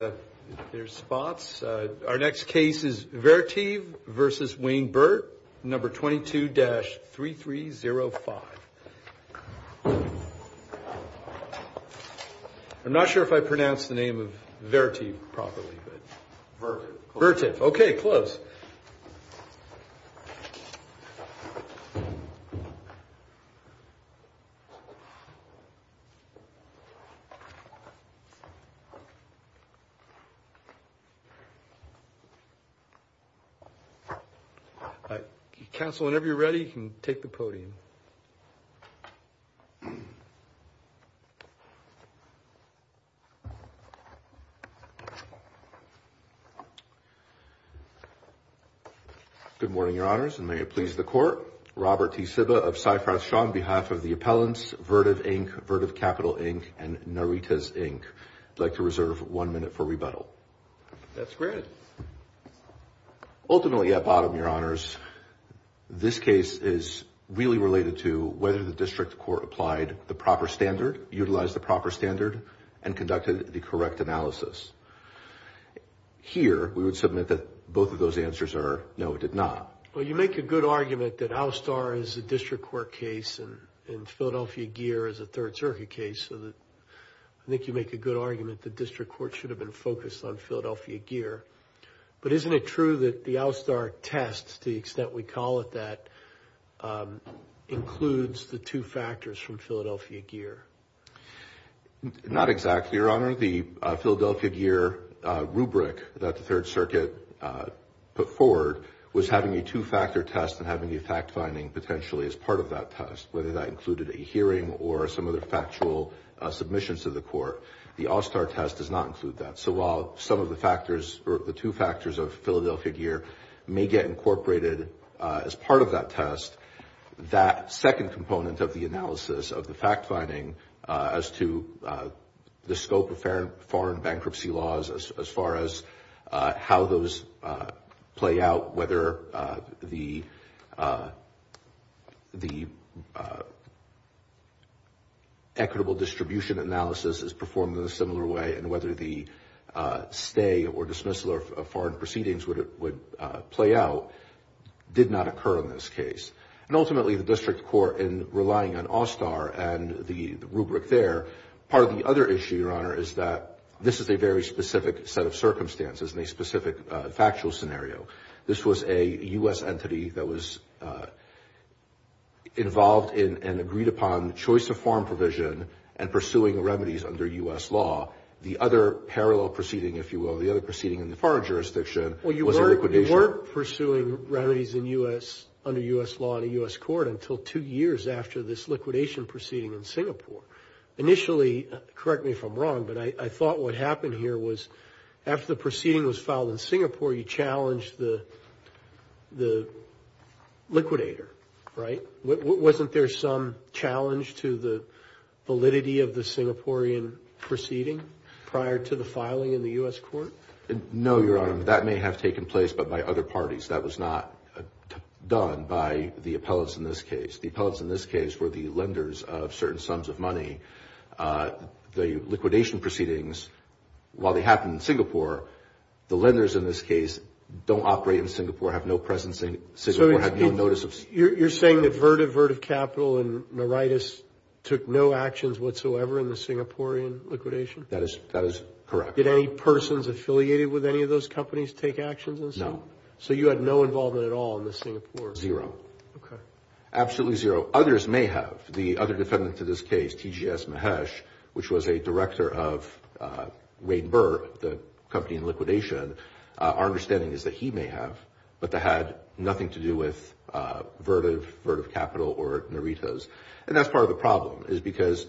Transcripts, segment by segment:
Our next case is Vertiv v. Wayne Burt, No. 22-3305. I'm not sure if I pronounced the name of Vertiv properly. Vertiv. Okay, close. Council, whenever you're ready, you can take the podium. Good morning, your honors, and may it please the court. Robert T. Sibba of Cypress Shaw, on behalf of the appellants, Vertiv, Inc., Vertiv Capital, Inc., and Naritas, Inc. I'd like to reserve one minute for rebuttal. That's great. Ultimately, at bottom, your honors, this case is really related to whether the district court applied the proper standard, utilized the proper standard, and conducted the correct analysis. Here, we would submit that both of those answers are no, it did not. Well, you make a good argument that ALSTAR is a district court case and Philadelphia Gear is a Third Circuit case, so I think you make a good argument that district court should have been focused on Philadelphia Gear. But isn't it true that the ALSTAR test, to the extent we call it that, includes the two factors from Philadelphia Gear? Not exactly, your honor. The Philadelphia Gear rubric that the Third Circuit put forward was having a two-factor test and having the fact-finding potentially as part of that test, whether that included a hearing or some other factual submissions to the court. The ALSTAR test does not include that. So while some of the factors or the two factors of Philadelphia Gear may get incorporated as part of that test, that second component of the analysis of the fact-finding as to the scope of foreign bankruptcy laws as far as how those play out, whether the equitable distribution analysis is performed in a similar way and whether the stay or dismissal of foreign proceedings would play out, did not occur in this case. And ultimately, the district court, in relying on ALSTAR and the rubric there, part of the other issue, your honor, is that this is a very specific set of circumstances and a specific factual scenario. This was a U.S. entity that was involved in and agreed upon choice-of-form provision and pursuing remedies under U.S. law. The other parallel proceeding, if you will, the other proceeding in the foreign jurisdiction was a liquidation. Well, you weren't pursuing remedies under U.S. law in a U.S. court until two years after this liquidation proceeding in Singapore. Initially, correct me if I'm wrong, but I thought what happened here was after the proceeding was filed in Singapore, you challenged the liquidator, right? Wasn't there some challenge to the validity of the Singaporean proceeding prior to the filing in the U.S. court? No, your honor. That may have taken place, but by other parties. That was not done by the appellants in this case. The appellants in this case were the lenders of certain sums of money. The liquidation proceedings, while they happened in Singapore, the lenders in this case don't operate in Singapore, have no presence in Singapore, have no notice of Singapore. You're saying that Vertiv, Vertiv Capital, and Naritis took no actions whatsoever in the Singaporean liquidation? That is correct. Did any persons affiliated with any of those companies take actions in Singapore? No. So you had no involvement at all in the Singaporean? Zero. Okay. Absolutely zero. Others may have. The other defendant to this case, T.G.S. Mahesh, which was a director of Rain Burr, the company in liquidation, our understanding is that he may have, but that had nothing to do with Vertiv, Vertiv Capital, or Naritis. And that's part of the problem, is because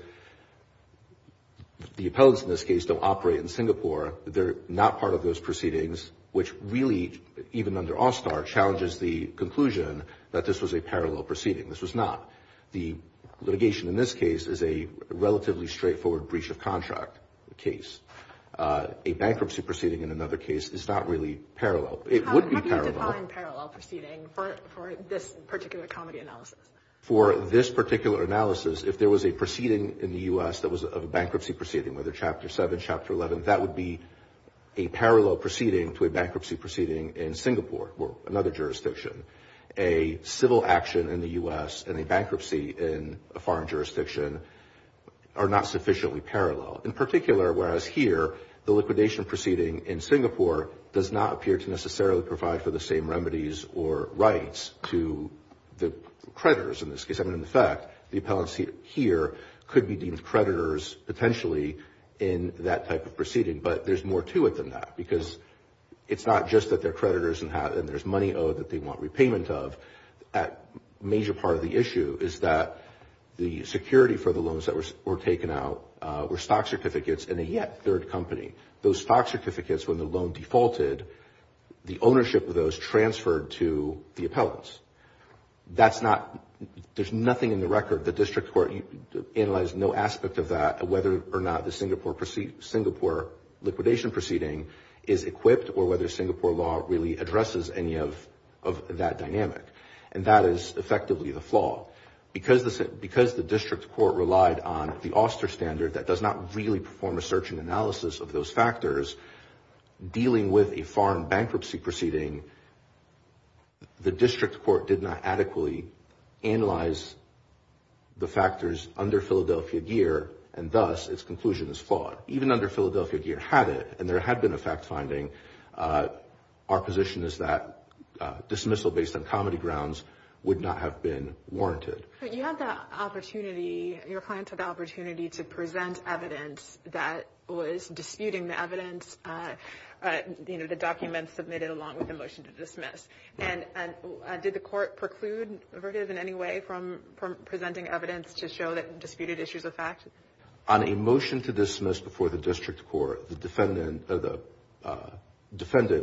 the appellants in this case don't operate in Singapore. They're not part of those proceedings, which really, even under All-Star, challenges the conclusion that this was a parallel proceeding. This was not. The litigation in this case is a relatively straightforward breach of contract case. A bankruptcy proceeding in another case is not really parallel. It would be parallel. How do you define parallel proceeding for this particular comedy analysis? For this particular analysis, if there was a proceeding in the U.S. that was a bankruptcy proceeding, whether Chapter 7, Chapter 11, that would be a parallel proceeding to a bankruptcy proceeding in Singapore, or another jurisdiction. A civil action in the U.S. and a bankruptcy in a foreign jurisdiction are not sufficiently parallel. In particular, whereas here, the liquidation proceeding in Singapore does not appear to necessarily provide for the same remedies or rights to the creditors in this case. I mean, in fact, the appellants here could be deemed creditors, potentially, in that type of proceeding. But there's more to it than that, because it's not just that they're creditors and there's money owed that they want repayment of. Major part of the issue is that the security for the loans that were taken out were stock certificates in a yet third company. Those stock certificates, when the loan defaulted, the ownership of those transferred to the appellants. That's not – there's nothing in the record. The district court analyzed no aspect of that, whether or not the Singapore liquidation proceeding is equipped or whether Singapore law really addresses any of that dynamic. And that is effectively the flaw. Because the district court relied on the Oster standard that does not really perform a search and analysis of those factors, dealing with a foreign bankruptcy proceeding, the district court did not adequately analyze the factors under Philadelphia gear, and thus, its conclusion is flawed. Even under Philadelphia gear, had it, and there had been a fact-finding, our position is that dismissal based on comedy grounds would not have been warranted. But you had the opportunity – your client had the opportunity to present evidence that was disputing the evidence, you know, the documents submitted along with the motion to dismiss. And did the court preclude, in any way, from presenting evidence to show that disputed issues are fact? On a motion to dismiss before the district court, the defendant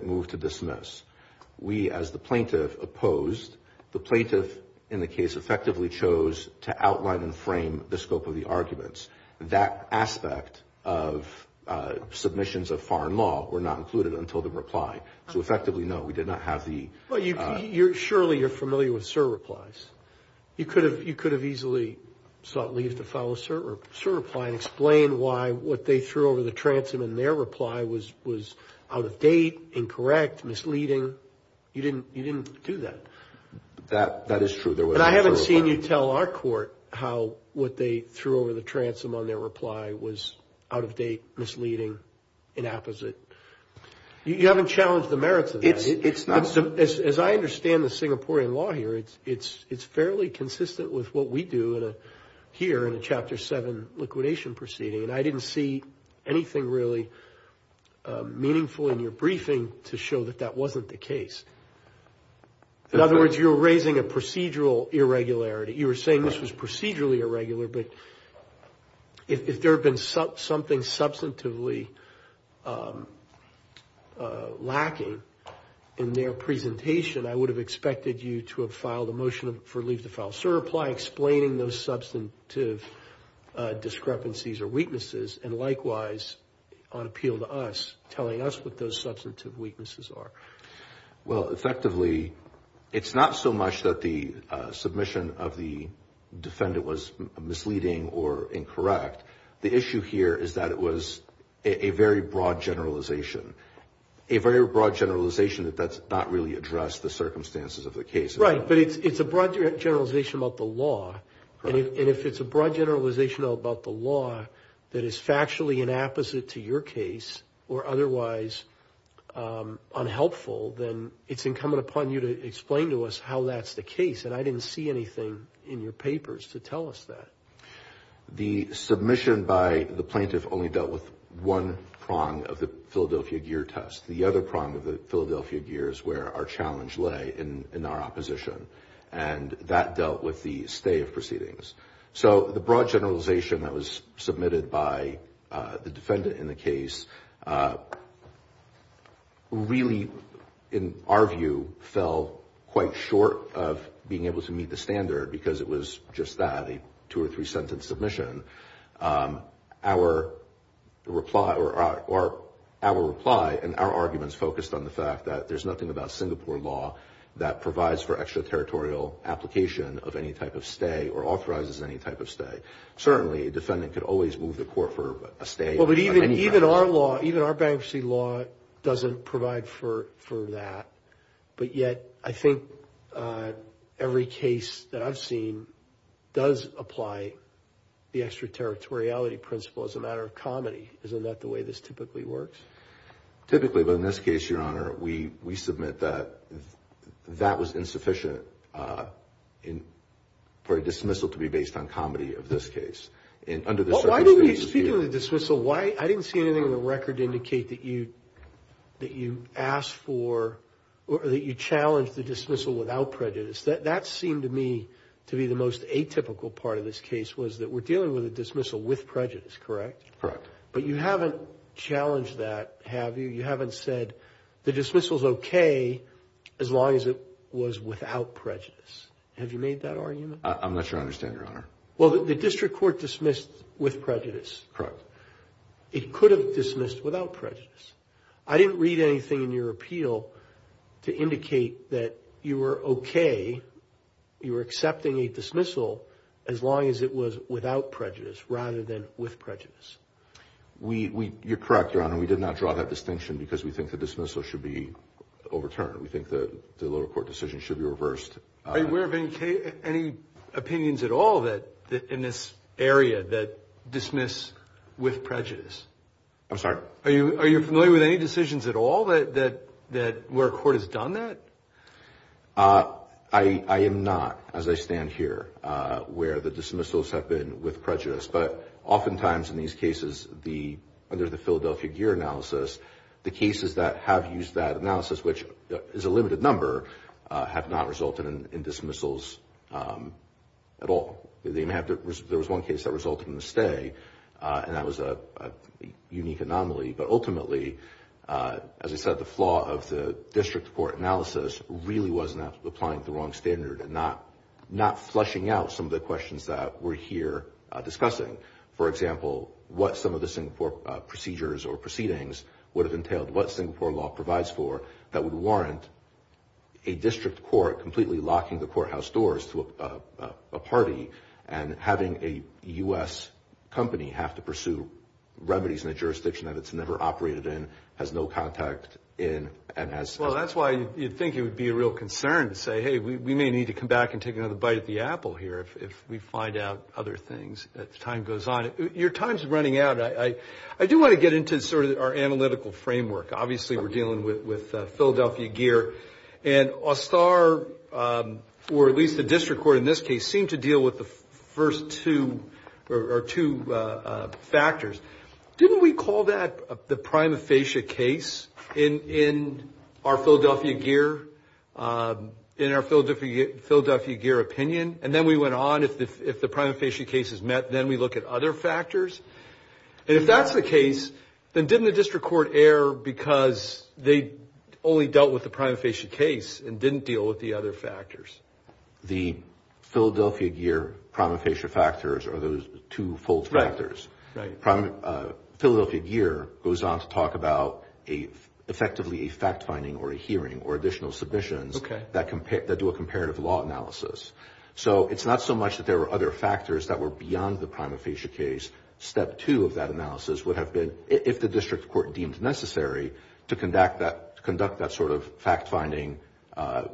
moved to dismiss. We, as the plaintiff, opposed. The plaintiff, in the case, effectively chose to outline and frame the scope of the arguments. That aspect of submissions of foreign law were not included until the reply. So effectively, no, we did not have the – Well, surely you're familiar with cert replies. You could have easily sought leave to file a cert reply and explain why what they threw over the transom in their reply was out of date, incorrect, misleading. You didn't do that. That is true. There was no cert reply. And I haven't seen you tell our court how what they threw over the transom on their reply was out of date, misleading, inapposite. It's not – As I understand the Singaporean law here, it's fairly consistent with what we do here in a Chapter 7 liquidation proceeding. And I didn't see anything really meaningful in your briefing to show that that wasn't the case. In other words, you're raising a procedural irregularity. You were saying this was procedurally irregular, but if there had been something substantively lacking in their presentation, I would have expected you to have filed a motion for leave to file a cert reply explaining those substantive discrepancies or weaknesses and likewise, on appeal to us, telling us what those substantive weaknesses are. Well, effectively, it's not so much that the submission of the defendant was misleading or incorrect. The issue here is that it was a very broad generalization. A very broad generalization that that's not really addressed the circumstances of the case. Right, but it's a broad generalization about the law. And if it's a broad generalization about the law that is factually inapposite to your case or otherwise unhelpful, then it's incumbent upon you to explain to us how that's the case. And I didn't see anything in your papers to tell us that. The submission by the plaintiff only dealt with one prong of the Philadelphia gear test. The other prong of the Philadelphia gear is where our challenge lay in our opposition. And that dealt with the stay of proceedings. So the broad generalization that was submitted by the defendant in the case really, in our view, fell quite short of being able to meet the standard because it was just that, a two or three sentence submission. Our reply and our arguments focused on the fact that there's nothing about Singapore law that provides for extraterritorial application of any type of stay or authorizes any type of stay. Certainly, a defendant could always move the court for a stay. Well, but even our law, even our bankruptcy law doesn't provide for that. But yet, I think every case that I've seen does apply the extraterritoriality principle as a matter of comedy. Isn't that the way this typically works? Typically, but in this case, Your Honor, we submit that that was insufficient for a dismissal to be based on comedy of this case. Speaking of the dismissal, I didn't see anything in the record indicate that you challenged the dismissal without prejudice. That seemed to me to be the most atypical part of this case was that we're dealing with a dismissal with prejudice, correct? Correct. But you haven't challenged that, have you? You haven't said the dismissal's okay as long as it was without prejudice. Have you made that argument? I'm not sure I understand, Your Honor. Well, the district court dismissed with prejudice. Correct. It could have dismissed without prejudice. I didn't read anything in your appeal to indicate that you were okay, you were accepting a dismissal as long as it was without prejudice rather than with prejudice. You're correct, Your Honor. We did not draw that distinction because we think the dismissal should be overturned. We think the lower court decision should be reversed. Are you aware of any opinions at all in this area that dismiss with prejudice? I'm sorry? Are you familiar with any decisions at all where a court has done that? I am not, as I stand here, where the dismissals have been with prejudice. But oftentimes in these cases, under the Philadelphia Gear analysis, the cases that have used that analysis, which is a limited number, have not resulted in dismissals at all. There was one case that resulted in a stay, and that was a unique anomaly. But ultimately, as I said, the flaw of the district court analysis really was applying the wrong standard and not fleshing out some of the questions that we're here discussing. For example, what some of the Singapore procedures or proceedings would have entailed, what Singapore law provides for that would warrant a district court completely locking the courthouse doors to a party and having a U.S. company have to pursue remedies in a jurisdiction that it's never operated in, has no contact in, and has... Well, that's why you'd think it would be a real concern to say, hey, we may need to come back and take another bite of the apple here if we find out other things as time goes on. Your time's running out. I do want to get into sort of our analytical framework. Obviously, we're dealing with Philadelphia gear. And OSTAR, or at least the district court in this case, seemed to deal with the first two factors. Didn't we call that the prima facie case in our Philadelphia gear opinion? And then we went on. If the prima facie case is met, then we look at other factors. And if that's the case, then didn't the district court err because they only dealt with the prima facie case and didn't deal with the other factors? The Philadelphia gear prima facie factors are those two-fold factors. Philadelphia gear goes on to talk about effectively a fact-finding or a hearing or additional submissions that do a comparative law analysis. So it's not so much that there were other factors that were beyond the prima facie case. Step two of that analysis would have been if the district court deemed necessary to conduct that sort of fact-finding,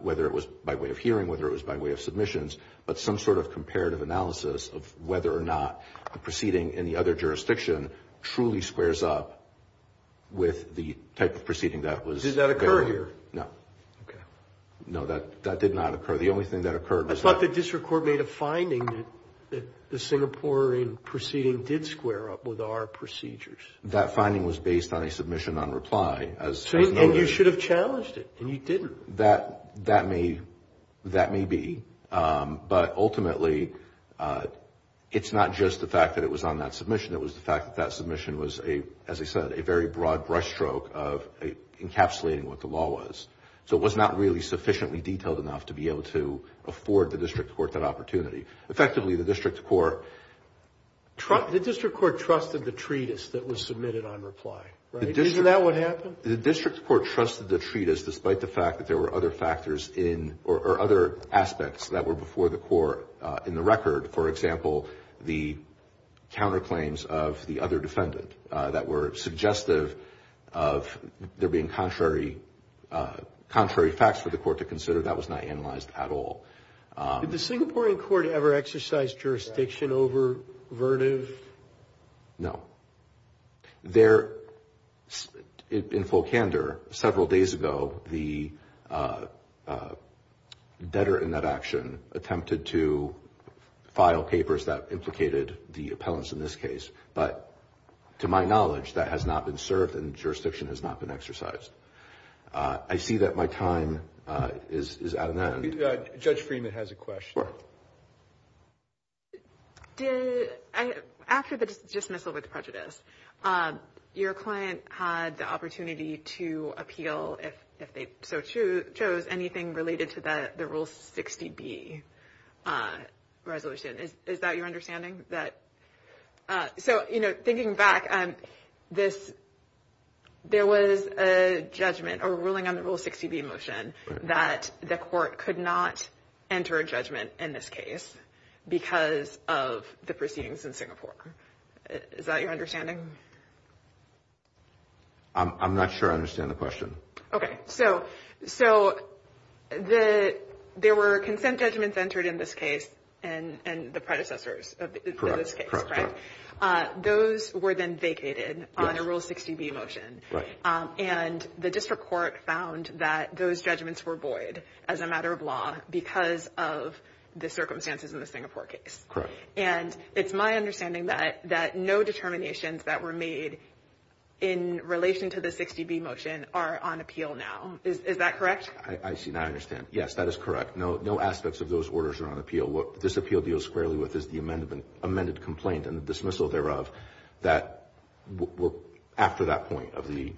whether it was by way of hearing, whether it was by way of submissions, but some sort of comparative analysis of whether or not the proceeding in the other jurisdiction truly squares up with the type of proceeding that was there. Did that occur here? No. Okay. No, that did not occur. The only thing that occurred was that. I thought the district court made a finding that the Singaporean proceeding did square up with our procedures. That finding was based on a submission on reply, as noted. And you should have challenged it, and you didn't. That may be. But ultimately, it's not just the fact that it was on that submission. It was the fact that that submission was, as I said, a very broad brushstroke of encapsulating what the law was. So it was not really sufficiently detailed enough to be able to afford the district court that opportunity. Effectively, the district court. The district court trusted the treatise that was submitted on reply, right? Isn't that what happened? The district court trusted the treatise, despite the fact that there were other factors in or other aspects that were before the court in the record. For example, the counterclaims of the other defendant that were suggestive of there being contrary facts for the court to consider. That was not analyzed at all. Did the Singaporean court ever exercise jurisdiction over Verniv? No. In full candor, several days ago, the debtor in that action attempted to file papers that implicated the appellants in this case. But to my knowledge, that has not been served and jurisdiction has not been exercised. I see that my time is out of that. Judge Freeman has a question. After the dismissal with prejudice, your client had the opportunity to appeal if they so chose anything related to the Rule 60B resolution. Is that your understanding? Thinking back, there was a judgment or ruling on the Rule 60B motion that the court could not enter a judgment in this case because of the proceedings in Singapore. Is that your understanding? I'm not sure I understand the question. Okay, so there were consent judgments entered in this case and the predecessors of this case, right? Those were then vacated on a Rule 60B motion. And the district court found that those judgments were void as a matter of law because of the circumstances in the Singapore case. Correct. And it's my understanding that no determinations that were made in relation to the 60B motion are on appeal now. Is that correct? I see and I understand. Yes, that is correct. No aspects of those orders are on appeal. What this appeal deals squarely with is the amended complaint and the dismissal thereof that were after that point of the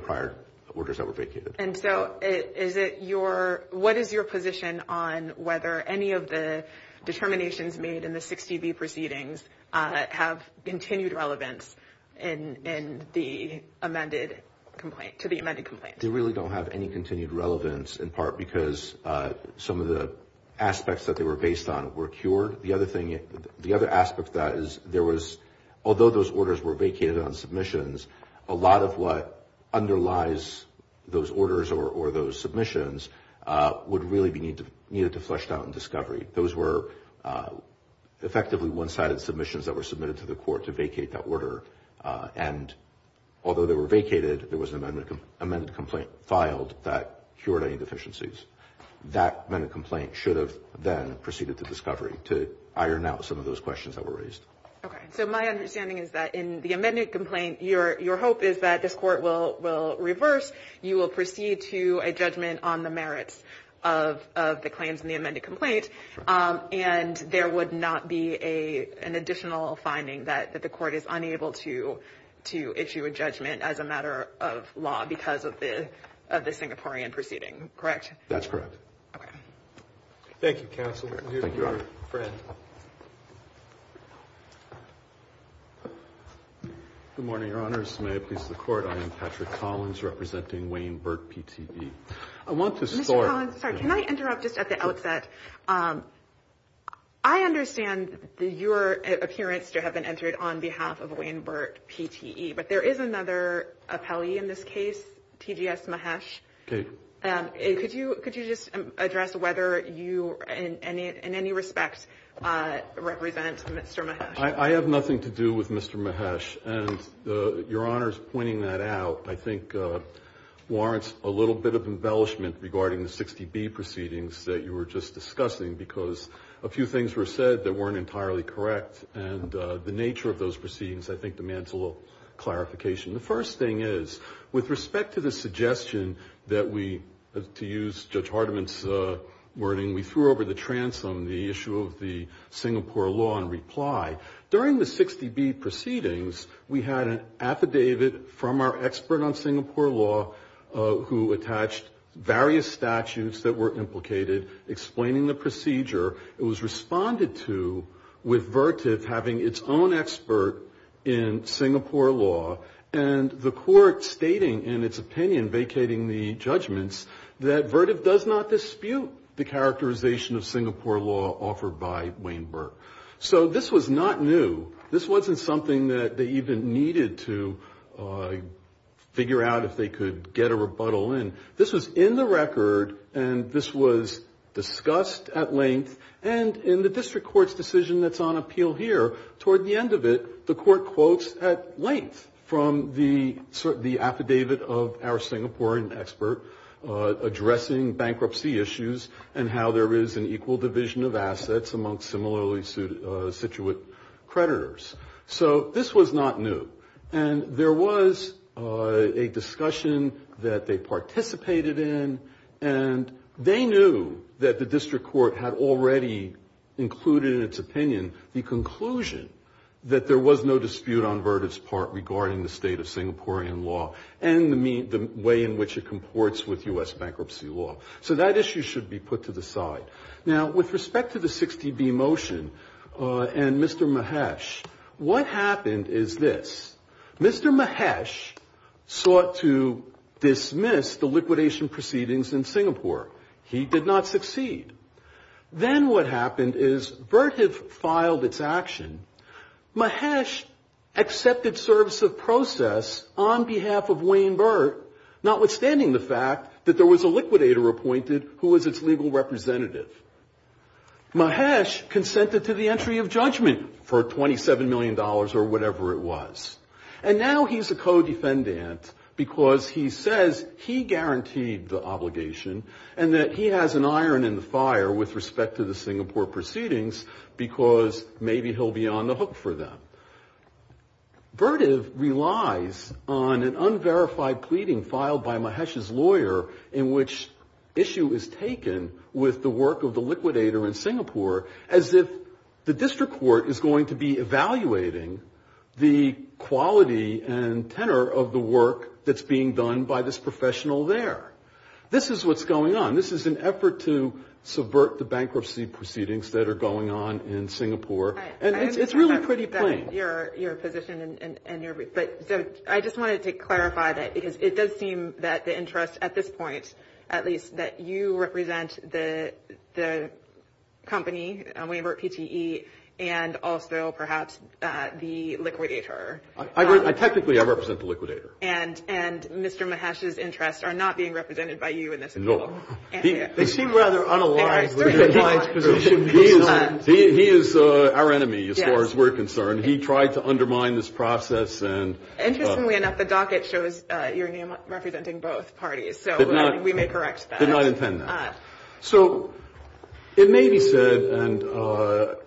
prior orders that were vacated. What is your position on whether any of the determinations made in the 60B proceedings have continued relevance to the amended complaint? They really don't have any continued relevance in part because some of the aspects that they were based on were cured. The other aspect of that is there was, although those orders were vacated on submissions, a lot of what underlies those orders or those submissions would really be needed to flesh out in discovery. Those were effectively one-sided submissions that were submitted to the court to vacate that order. And although they were vacated, there was an amended complaint filed that cured any deficiencies. That amended complaint should have then proceeded to discovery to iron out some of those questions that were raised. Okay. So my understanding is that in the amended complaint, your hope is that this court will reverse. You will proceed to a judgment on the merits of the claims in the amended complaint, and there would not be an additional finding that the court is unable to issue a judgment as a matter of law because of the Singaporean proceeding. Correct? That's correct. Okay. Thank you, counsel. Thank you, Your Honor. Go ahead. Good morning, Your Honors. May it please the Court, I am Patrick Collins representing Wayne Burt PTE. I want to start. Mr. Collins, sorry, can I interrupt just at the outset? I understand that your appearance to have been entered on behalf of Wayne Burt PTE, but there is another appellee in this case, TGS Mahesh. Okay. Could you just address whether you in any respect represent Mr. Mahesh? I have nothing to do with Mr. Mahesh, and Your Honor's pointing that out I think warrants a little bit of embellishment regarding the 60B proceedings that you were just discussing because a few things were said that weren't entirely correct, and the nature of those proceedings I think demands a little clarification. The first thing is, with respect to the suggestion that we, to use Judge Hardiman's wording, we threw over the transom, the issue of the Singapore law in reply. During the 60B proceedings, we had an affidavit from our expert on Singapore law who attached various statutes that were implicated, explaining the procedure. It was responded to with Vertiv having its own expert in Singapore law, and the court stating in its opinion, vacating the judgments, that Vertiv does not dispute the characterization of Singapore law offered by Wayne Burt. So this was not new. This wasn't something that they even needed to figure out if they could get a rebuttal in. This was in the record, and this was discussed at length, and in the district court's decision that's on appeal here, toward the end of it, the court quotes at length from the affidavit of our Singaporean expert addressing bankruptcy issues and how there is an equal division of assets among similarly situated creditors. So this was not new. And there was a discussion that they participated in, and they knew that the district court had already included in its opinion the conclusion that there was no dispute on Vertiv's part regarding the state of Singaporean law and the way in which it comports with U.S. bankruptcy law. So that issue should be put to the side. Now, with respect to the 60B motion and Mr. Mahesh, what happened is this. Mr. Mahesh sought to dismiss the liquidation proceedings in Singapore. He did not succeed. Then what happened is Vertiv filed its action. Mahesh accepted service of process on behalf of Wayne Burt, notwithstanding the fact that there was a liquidator appointed who was its legal representative. Mahesh consented to the entry of judgment for $27 million or whatever it was. And now he's a co-defendant because he says he guaranteed the obligation and that he has an iron in the fire with respect to the Singapore proceedings because maybe he'll be on the hook for them. Vertiv relies on an unverified pleading filed by Mahesh's lawyer in which issue is taken with the work of the liquidator in Singapore as if the district court is going to be evaluating the quality and tenor of the work that's being done by this professional there. This is what's going on. This is an effort to subvert the bankruptcy proceedings that are going on in Singapore. And it's really pretty plain. I just wanted to clarify that because it does seem that the interest at this point at least that you represent the company, Wayne Burt PTE, and also perhaps the liquidator. Technically I represent the liquidator. And Mr. Mahesh's interests are not being represented by you in this appeal. No. They seem rather unaligned. He is our enemy as far as we're concerned. He tried to undermine this process. Interestingly enough, the docket shows your name representing both parties. So we may correct that. Did not intend that. So it may be said, and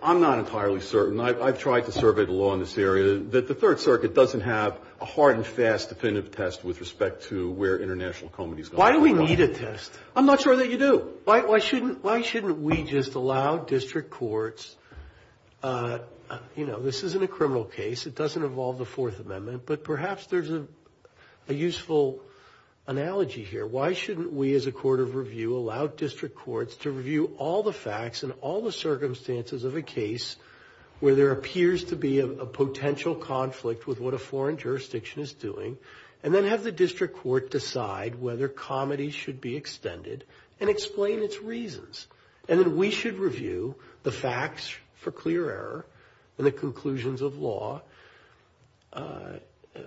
I'm not entirely certain. I've tried to survey the law in this area, that the Third Circuit doesn't have a hard and fast definitive test with respect to where international companies go. Why do we need a test? I'm not sure that you do. Why shouldn't we just allow district courts, you know, this isn't a criminal case. It doesn't involve the Fourth Amendment. But perhaps there's a useful analogy here. Why shouldn't we as a court of review allow district courts to review all the facts and all the circumstances of a case where there appears to be a potential conflict with what a foreign jurisdiction is doing, and then have the district court decide whether comity should be extended and explain its reasons. And then we should review the facts for clear error and the conclusions of law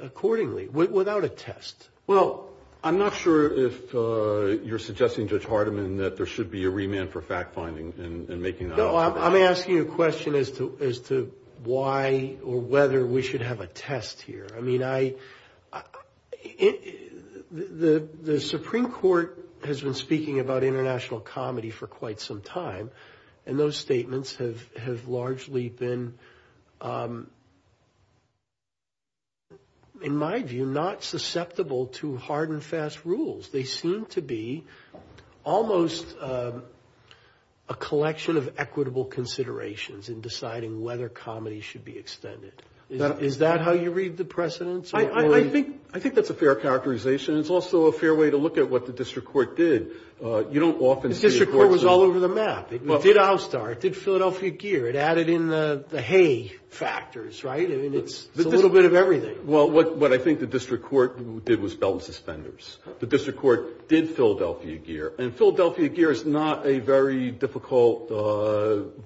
accordingly, without a test. Well, I'm not sure if you're suggesting, Judge Hardiman, that there should be a remand for fact-finding and making that up. No, I'm asking a question as to why or whether we should have a test here. I mean, the Supreme Court has been speaking about international comity for quite some time, and those statements have largely been, in my view, not susceptible to hard and fast rules. They seem to be almost a collection of equitable considerations in deciding whether comity should be extended. Is that how you read the precedents? I think that's a fair characterization. It's also a fair way to look at what the district court did. You don't often see a court saying that. The district court was all over the map. It did Outstar. It did Philadelphia Gear. It added in the hay factors, right? I mean, it's a little bit of everything. Well, what I think the district court did was felt suspenders. The district court did Philadelphia Gear, and Philadelphia Gear is not a very difficult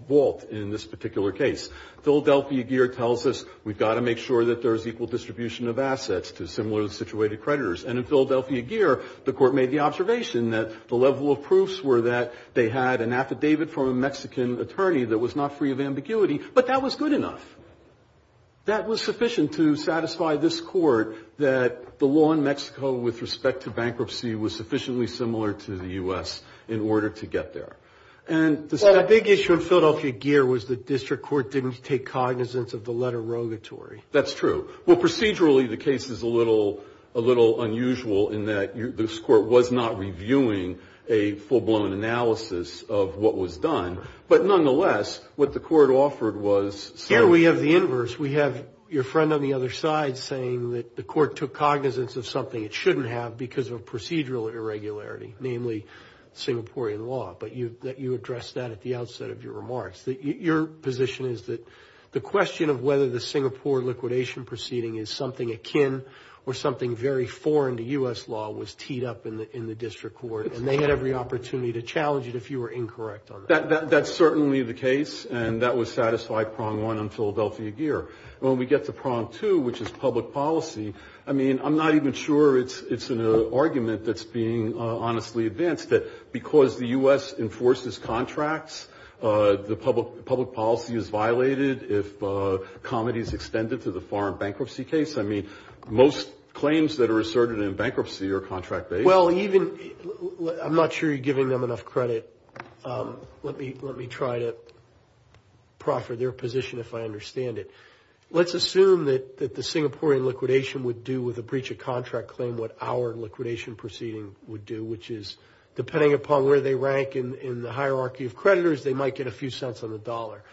vault in this particular case. Philadelphia Gear tells us we've got to make sure that there is equal distribution of assets to similar situated creditors, and in Philadelphia Gear, the court made the observation that the level of proofs were that they had an affidavit from a Mexican attorney that was not free of ambiguity, but that was good enough. That was sufficient to satisfy this court that the law in Mexico with respect to bankruptcy was sufficiently similar to the U.S. in order to get there. The big issue in Philadelphia Gear was the district court didn't take cognizance of the letter rogatory. That's true. Well, procedurally, the case is a little unusual in that this court was not reviewing a full-blown analysis of what was done, but nonetheless, what the court offered was Here we have the inverse. We have your friend on the other side saying that the court took cognizance of something it shouldn't have because of a procedural irregularity, namely Singaporean law, but you addressed that at the outset of your remarks. Your position is that the question of whether the Singapore liquidation proceeding is something akin or something very foreign to U.S. law was teed up in the district court, and they had every opportunity to challenge it if you were incorrect on that. That's certainly the case, and that would satisfy prong one on Philadelphia Gear. When we get to prong two, which is public policy, I mean, I'm not even sure it's an argument that's being honestly advanced that because the U.S. enforces contracts, the public policy is violated if comedy is extended to the foreign bankruptcy case. I mean, most claims that are asserted in bankruptcy are contract-based. Well, even – I'm not sure you're giving them enough credit. Let me try to proffer their position if I understand it. Let's assume that the Singaporean liquidation would do with a breach of contract claim what our liquidation proceeding would do, which is depending upon where they rank in the hierarchy of creditors, they might get a few cents on the dollar.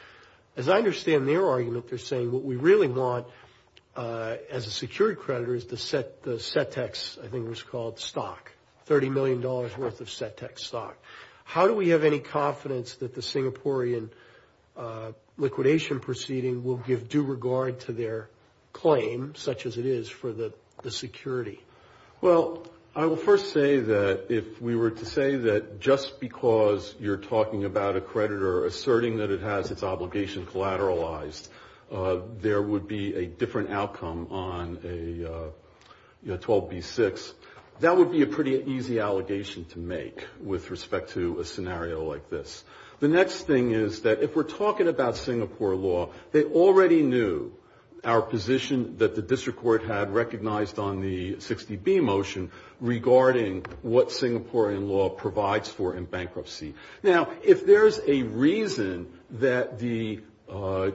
As I understand their argument, they're saying what we really want as a security creditor is to set the set-tax, I think it was called, stock, $30 million worth of set-tax stock. How do we have any confidence that the Singaporean liquidation proceeding will give due regard to their claim such as it is for the security? Well, I will first say that if we were to say that just because you're talking about a creditor asserting that it has its obligation collateralized, there would be a different outcome on a 12B6, that would be a pretty easy allegation to make with respect to a scenario like this. The next thing is that if we're talking about Singapore law, they already knew our position that the district court had recognized on the 60B motion regarding what Singaporean law provides for in bankruptcy. Now, if there's a reason that the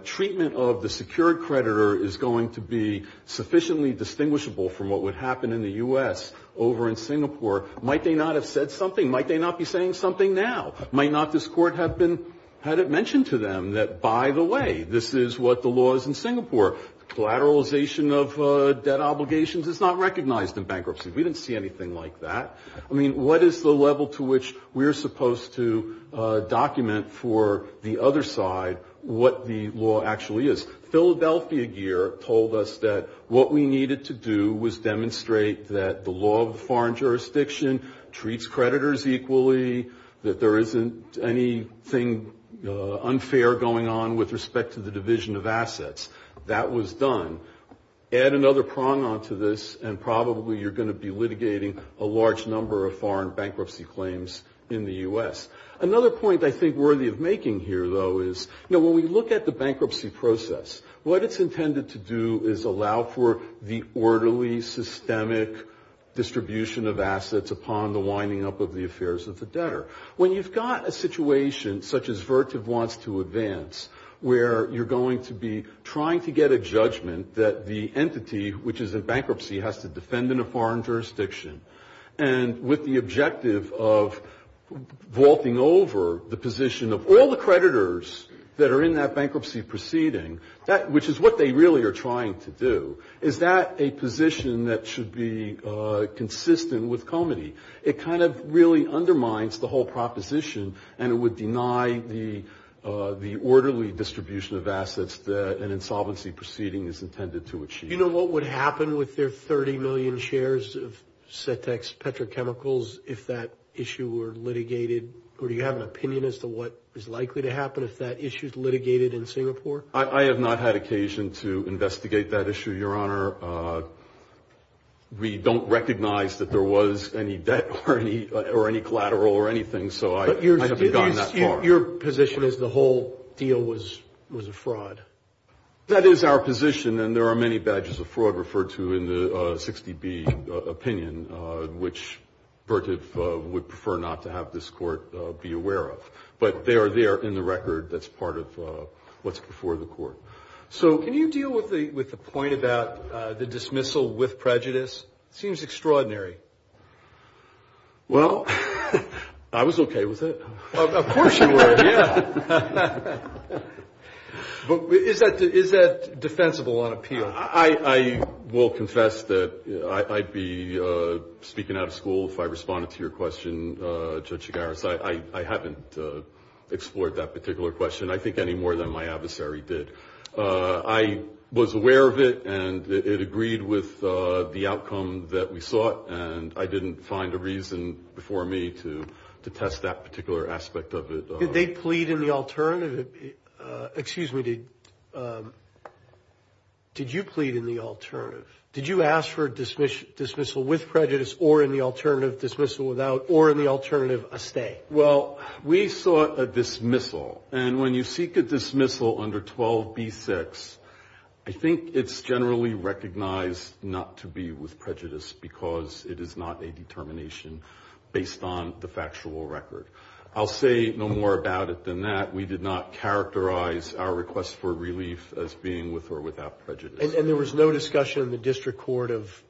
treatment of the secured creditor is going to be sufficiently distinguishable from what would happen in the U.S. over in Singapore, might they not have said something? Might they not be saying something now? Might not this court have had it mentioned to them that, by the way, this is what the law is in Singapore. Collateralization of debt obligations is not recognized in bankruptcy. We didn't see anything like that. I mean, what is the level to which we're supposed to document for the other side what the law actually is? Philadelphia gear told us that what we needed to do was demonstrate that the law of foreign jurisdiction treats creditors equally, that there isn't anything unfair going on with respect to the division of assets. That was done. Add another prong onto this, and probably you're going to be litigating a large number of foreign bankruptcy claims in the U.S. Another point I think worthy of making here, though, is, you know, when we look at the bankruptcy process, what it's intended to do is allow for the orderly, systemic distribution of assets upon the winding up of the affairs of the debtor. When you've got a situation such as Vertiv wants to advance, where you're going to be trying to get a judgment that the entity, which is in bankruptcy, has to defend in a foreign jurisdiction, and with the objective of vaulting over the position of all the which is what they really are trying to do, is that a position that should be consistent with comity? It kind of really undermines the whole proposition, and it would deny the orderly distribution of assets that an insolvency proceeding is intended to achieve. You know what would happen with their 30 million shares of Setex Petrochemicals if that issue were litigated? Or do you have an opinion as to what is likely to happen if that issue is litigated in Singapore? I have not had occasion to investigate that issue, Your Honor. We don't recognize that there was any debt or any collateral or anything, so I haven't gone that far. But your position is the whole deal was a fraud? That is our position, and there are many badges of fraud referred to in the 60B opinion, which Vertiv would prefer not to have this Court be aware of. But they are there in the record that's part of what's before the Court. So can you deal with the point about the dismissal with prejudice? It seems extraordinary. Well, I was okay with it. Of course you were, yeah. But is that defensible on appeal? I will confess that I'd be speaking out of school if I responded to your question, Judge Chigaris. I haven't explored that particular question, I think, any more than my adversary did. I was aware of it, and it agreed with the outcome that we sought, and I didn't find a reason before me to test that particular aspect of it. Did they plead in the alternative? Did you ask for a dismissal with prejudice or in the alternative a stay? Well, we sought a dismissal, and when you seek a dismissal under 12B-6, I think it's generally recognized not to be with prejudice because it is not a determination based on the factual record. I'll say no more about it than that. We did not characterize our request for relief as being with or without prejudice. And there was no discussion in the district court of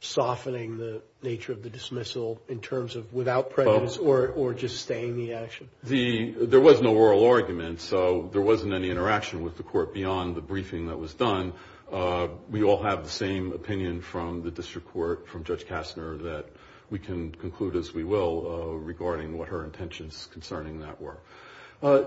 softening the nature of the dismissal in terms of without prejudice or just staying the action? There was no oral argument, so there wasn't any interaction with the court beyond the briefing that was done. We all have the same opinion from the district court, from Judge Kastner, that we can conclude as we will regarding what her intentions concerning that were.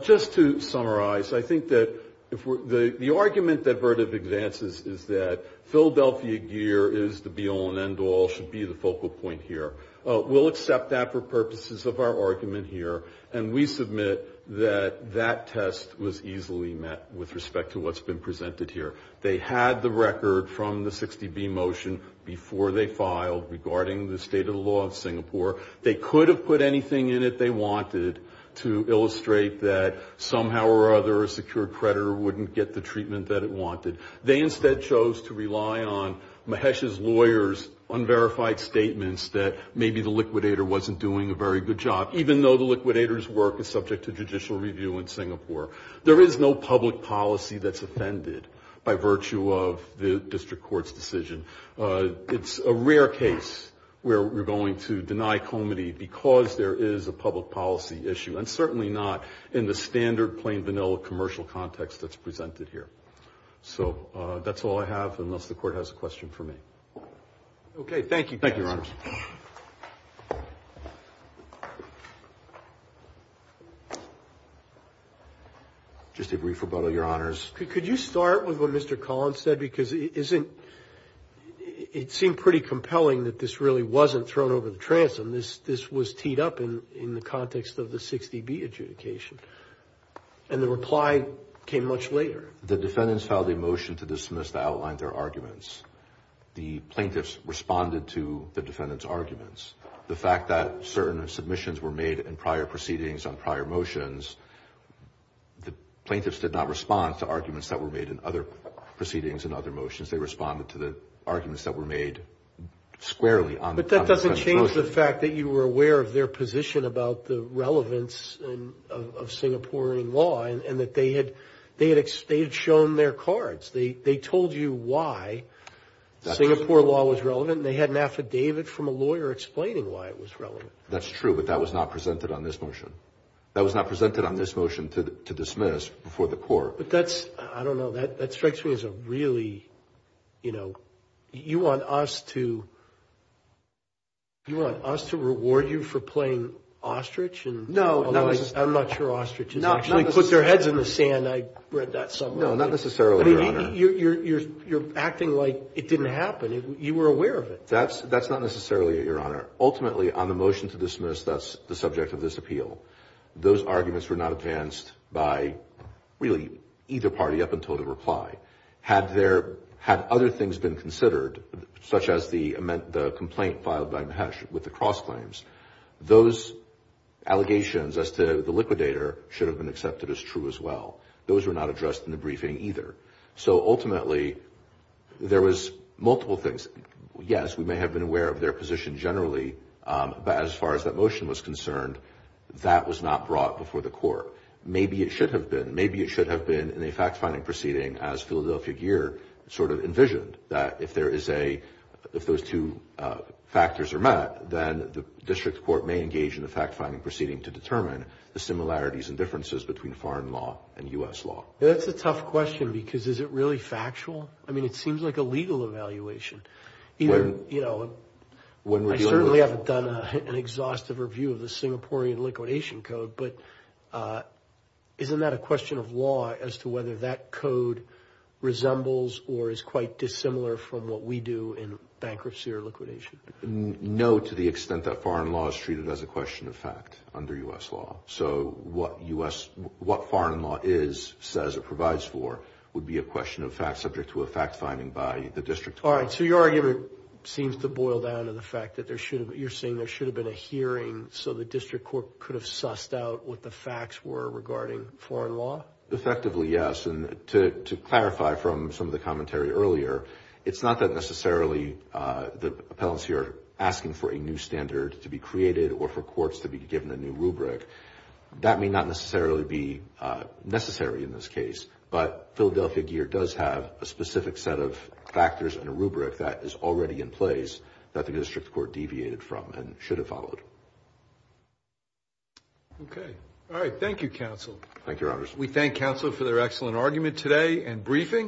Just to summarize, I think that the argument that Vertev advances is that Philadelphia gear is the be-all and end-all, should be the focal point here. We'll accept that for purposes of our argument here, and we submit that that test was easily met with respect to what's been presented here. They had the record from the 60B motion before they filed regarding the state of the law of Singapore. They could have put anything in it they wanted to illustrate that somehow or other, a secured creditor wouldn't get the treatment that it wanted. They instead chose to rely on Mahesh's lawyer's unverified statements that maybe the liquidator wasn't doing a very good job, even though the liquidator's work is subject to judicial review in Singapore. There is no public policy that's offended by virtue of the district court's decision. It's a rare case where we're going to deny comity because there is a public policy issue, and certainly not in the standard plain vanilla commercial context that's presented here. So that's all I have, unless the Court has a question for me. Okay, thank you. Thank you, Your Honors. Just a brief rebuttal, Your Honors. Could you start with what Mr. Collins said? Because it seemed pretty compelling that this really wasn't thrown over the transom. This was teed up in the context of the 60B adjudication, and the reply came much later. The defendants filed a motion to dismiss the outline of their arguments. The plaintiffs responded to the defendants' arguments. The fact that certain submissions were made in prior proceedings on prior motions, the plaintiffs did not respond to arguments that were made in other proceedings and other motions. They responded to the arguments that were made squarely on the motion. But that doesn't change the fact that you were aware of their position about the relevance of Singaporean law and that they had shown their cards. They told you why Singapore law was relevant, and they had an affidavit from a lawyer explaining why it was relevant. That's true, but that was not presented on this motion. That was not presented on this motion to dismiss before the court. But that's, I don't know, that strikes me as a really, you know, you want us to reward you for playing ostrich? No. I'm not sure ostriches actually put their heads in the sand. I read that somewhere. No, not necessarily, Your Honor. You're acting like it didn't happen. You were aware of it. That's not necessarily it, Your Honor. Ultimately, on the motion to dismiss, that's the subject of this appeal. Those arguments were not advanced by really either party up until the reply. Had other things been considered, such as the complaint filed by Mahesh with the cross claims, those allegations as to the liquidator should have been accepted as true as well. Those were not addressed in the briefing either. So ultimately, there was multiple things. Yes, we may have been aware of their position generally, but as far as that motion was concerned, that was not brought before the court. Maybe it should have been. Maybe it should have been in a fact-finding proceeding as Philadelphia Gear sort of envisioned, that if there is a, if those two factors are met, then the district court may engage in a fact-finding proceeding to determine the similarities and differences between foreign law and U.S. law. That's a tough question because is it really factual? I mean, it seems like a legal evaluation. I certainly haven't done an exhaustive review of the Singaporean liquidation code, but isn't that a question of law as to whether that code resembles or is quite dissimilar from what we do in bankruptcy or liquidation? No, to the extent that foreign law is treated as a question of fact under U.S. law. So what U.S., what foreign law is, says it provides for, would be a question of fact subject to a fact-finding by the district court. All right, so your argument seems to boil down to the fact that there should have, you're saying there should have been a hearing so the district court could have sussed out what the facts were regarding foreign law? Effectively, yes, and to clarify from some of the commentary earlier, it's not that necessarily the appellants here are asking for a new standard to be created or for courts to be given a new rubric. That may not necessarily be necessary in this case, but Philadelphia Gear does have a specific set of factors and a rubric that is already in place that the district court deviated from and should have followed. Okay, all right, thank you, counsel. Thank you, Your Honors. We thank counsel for their excellent argument today and briefing.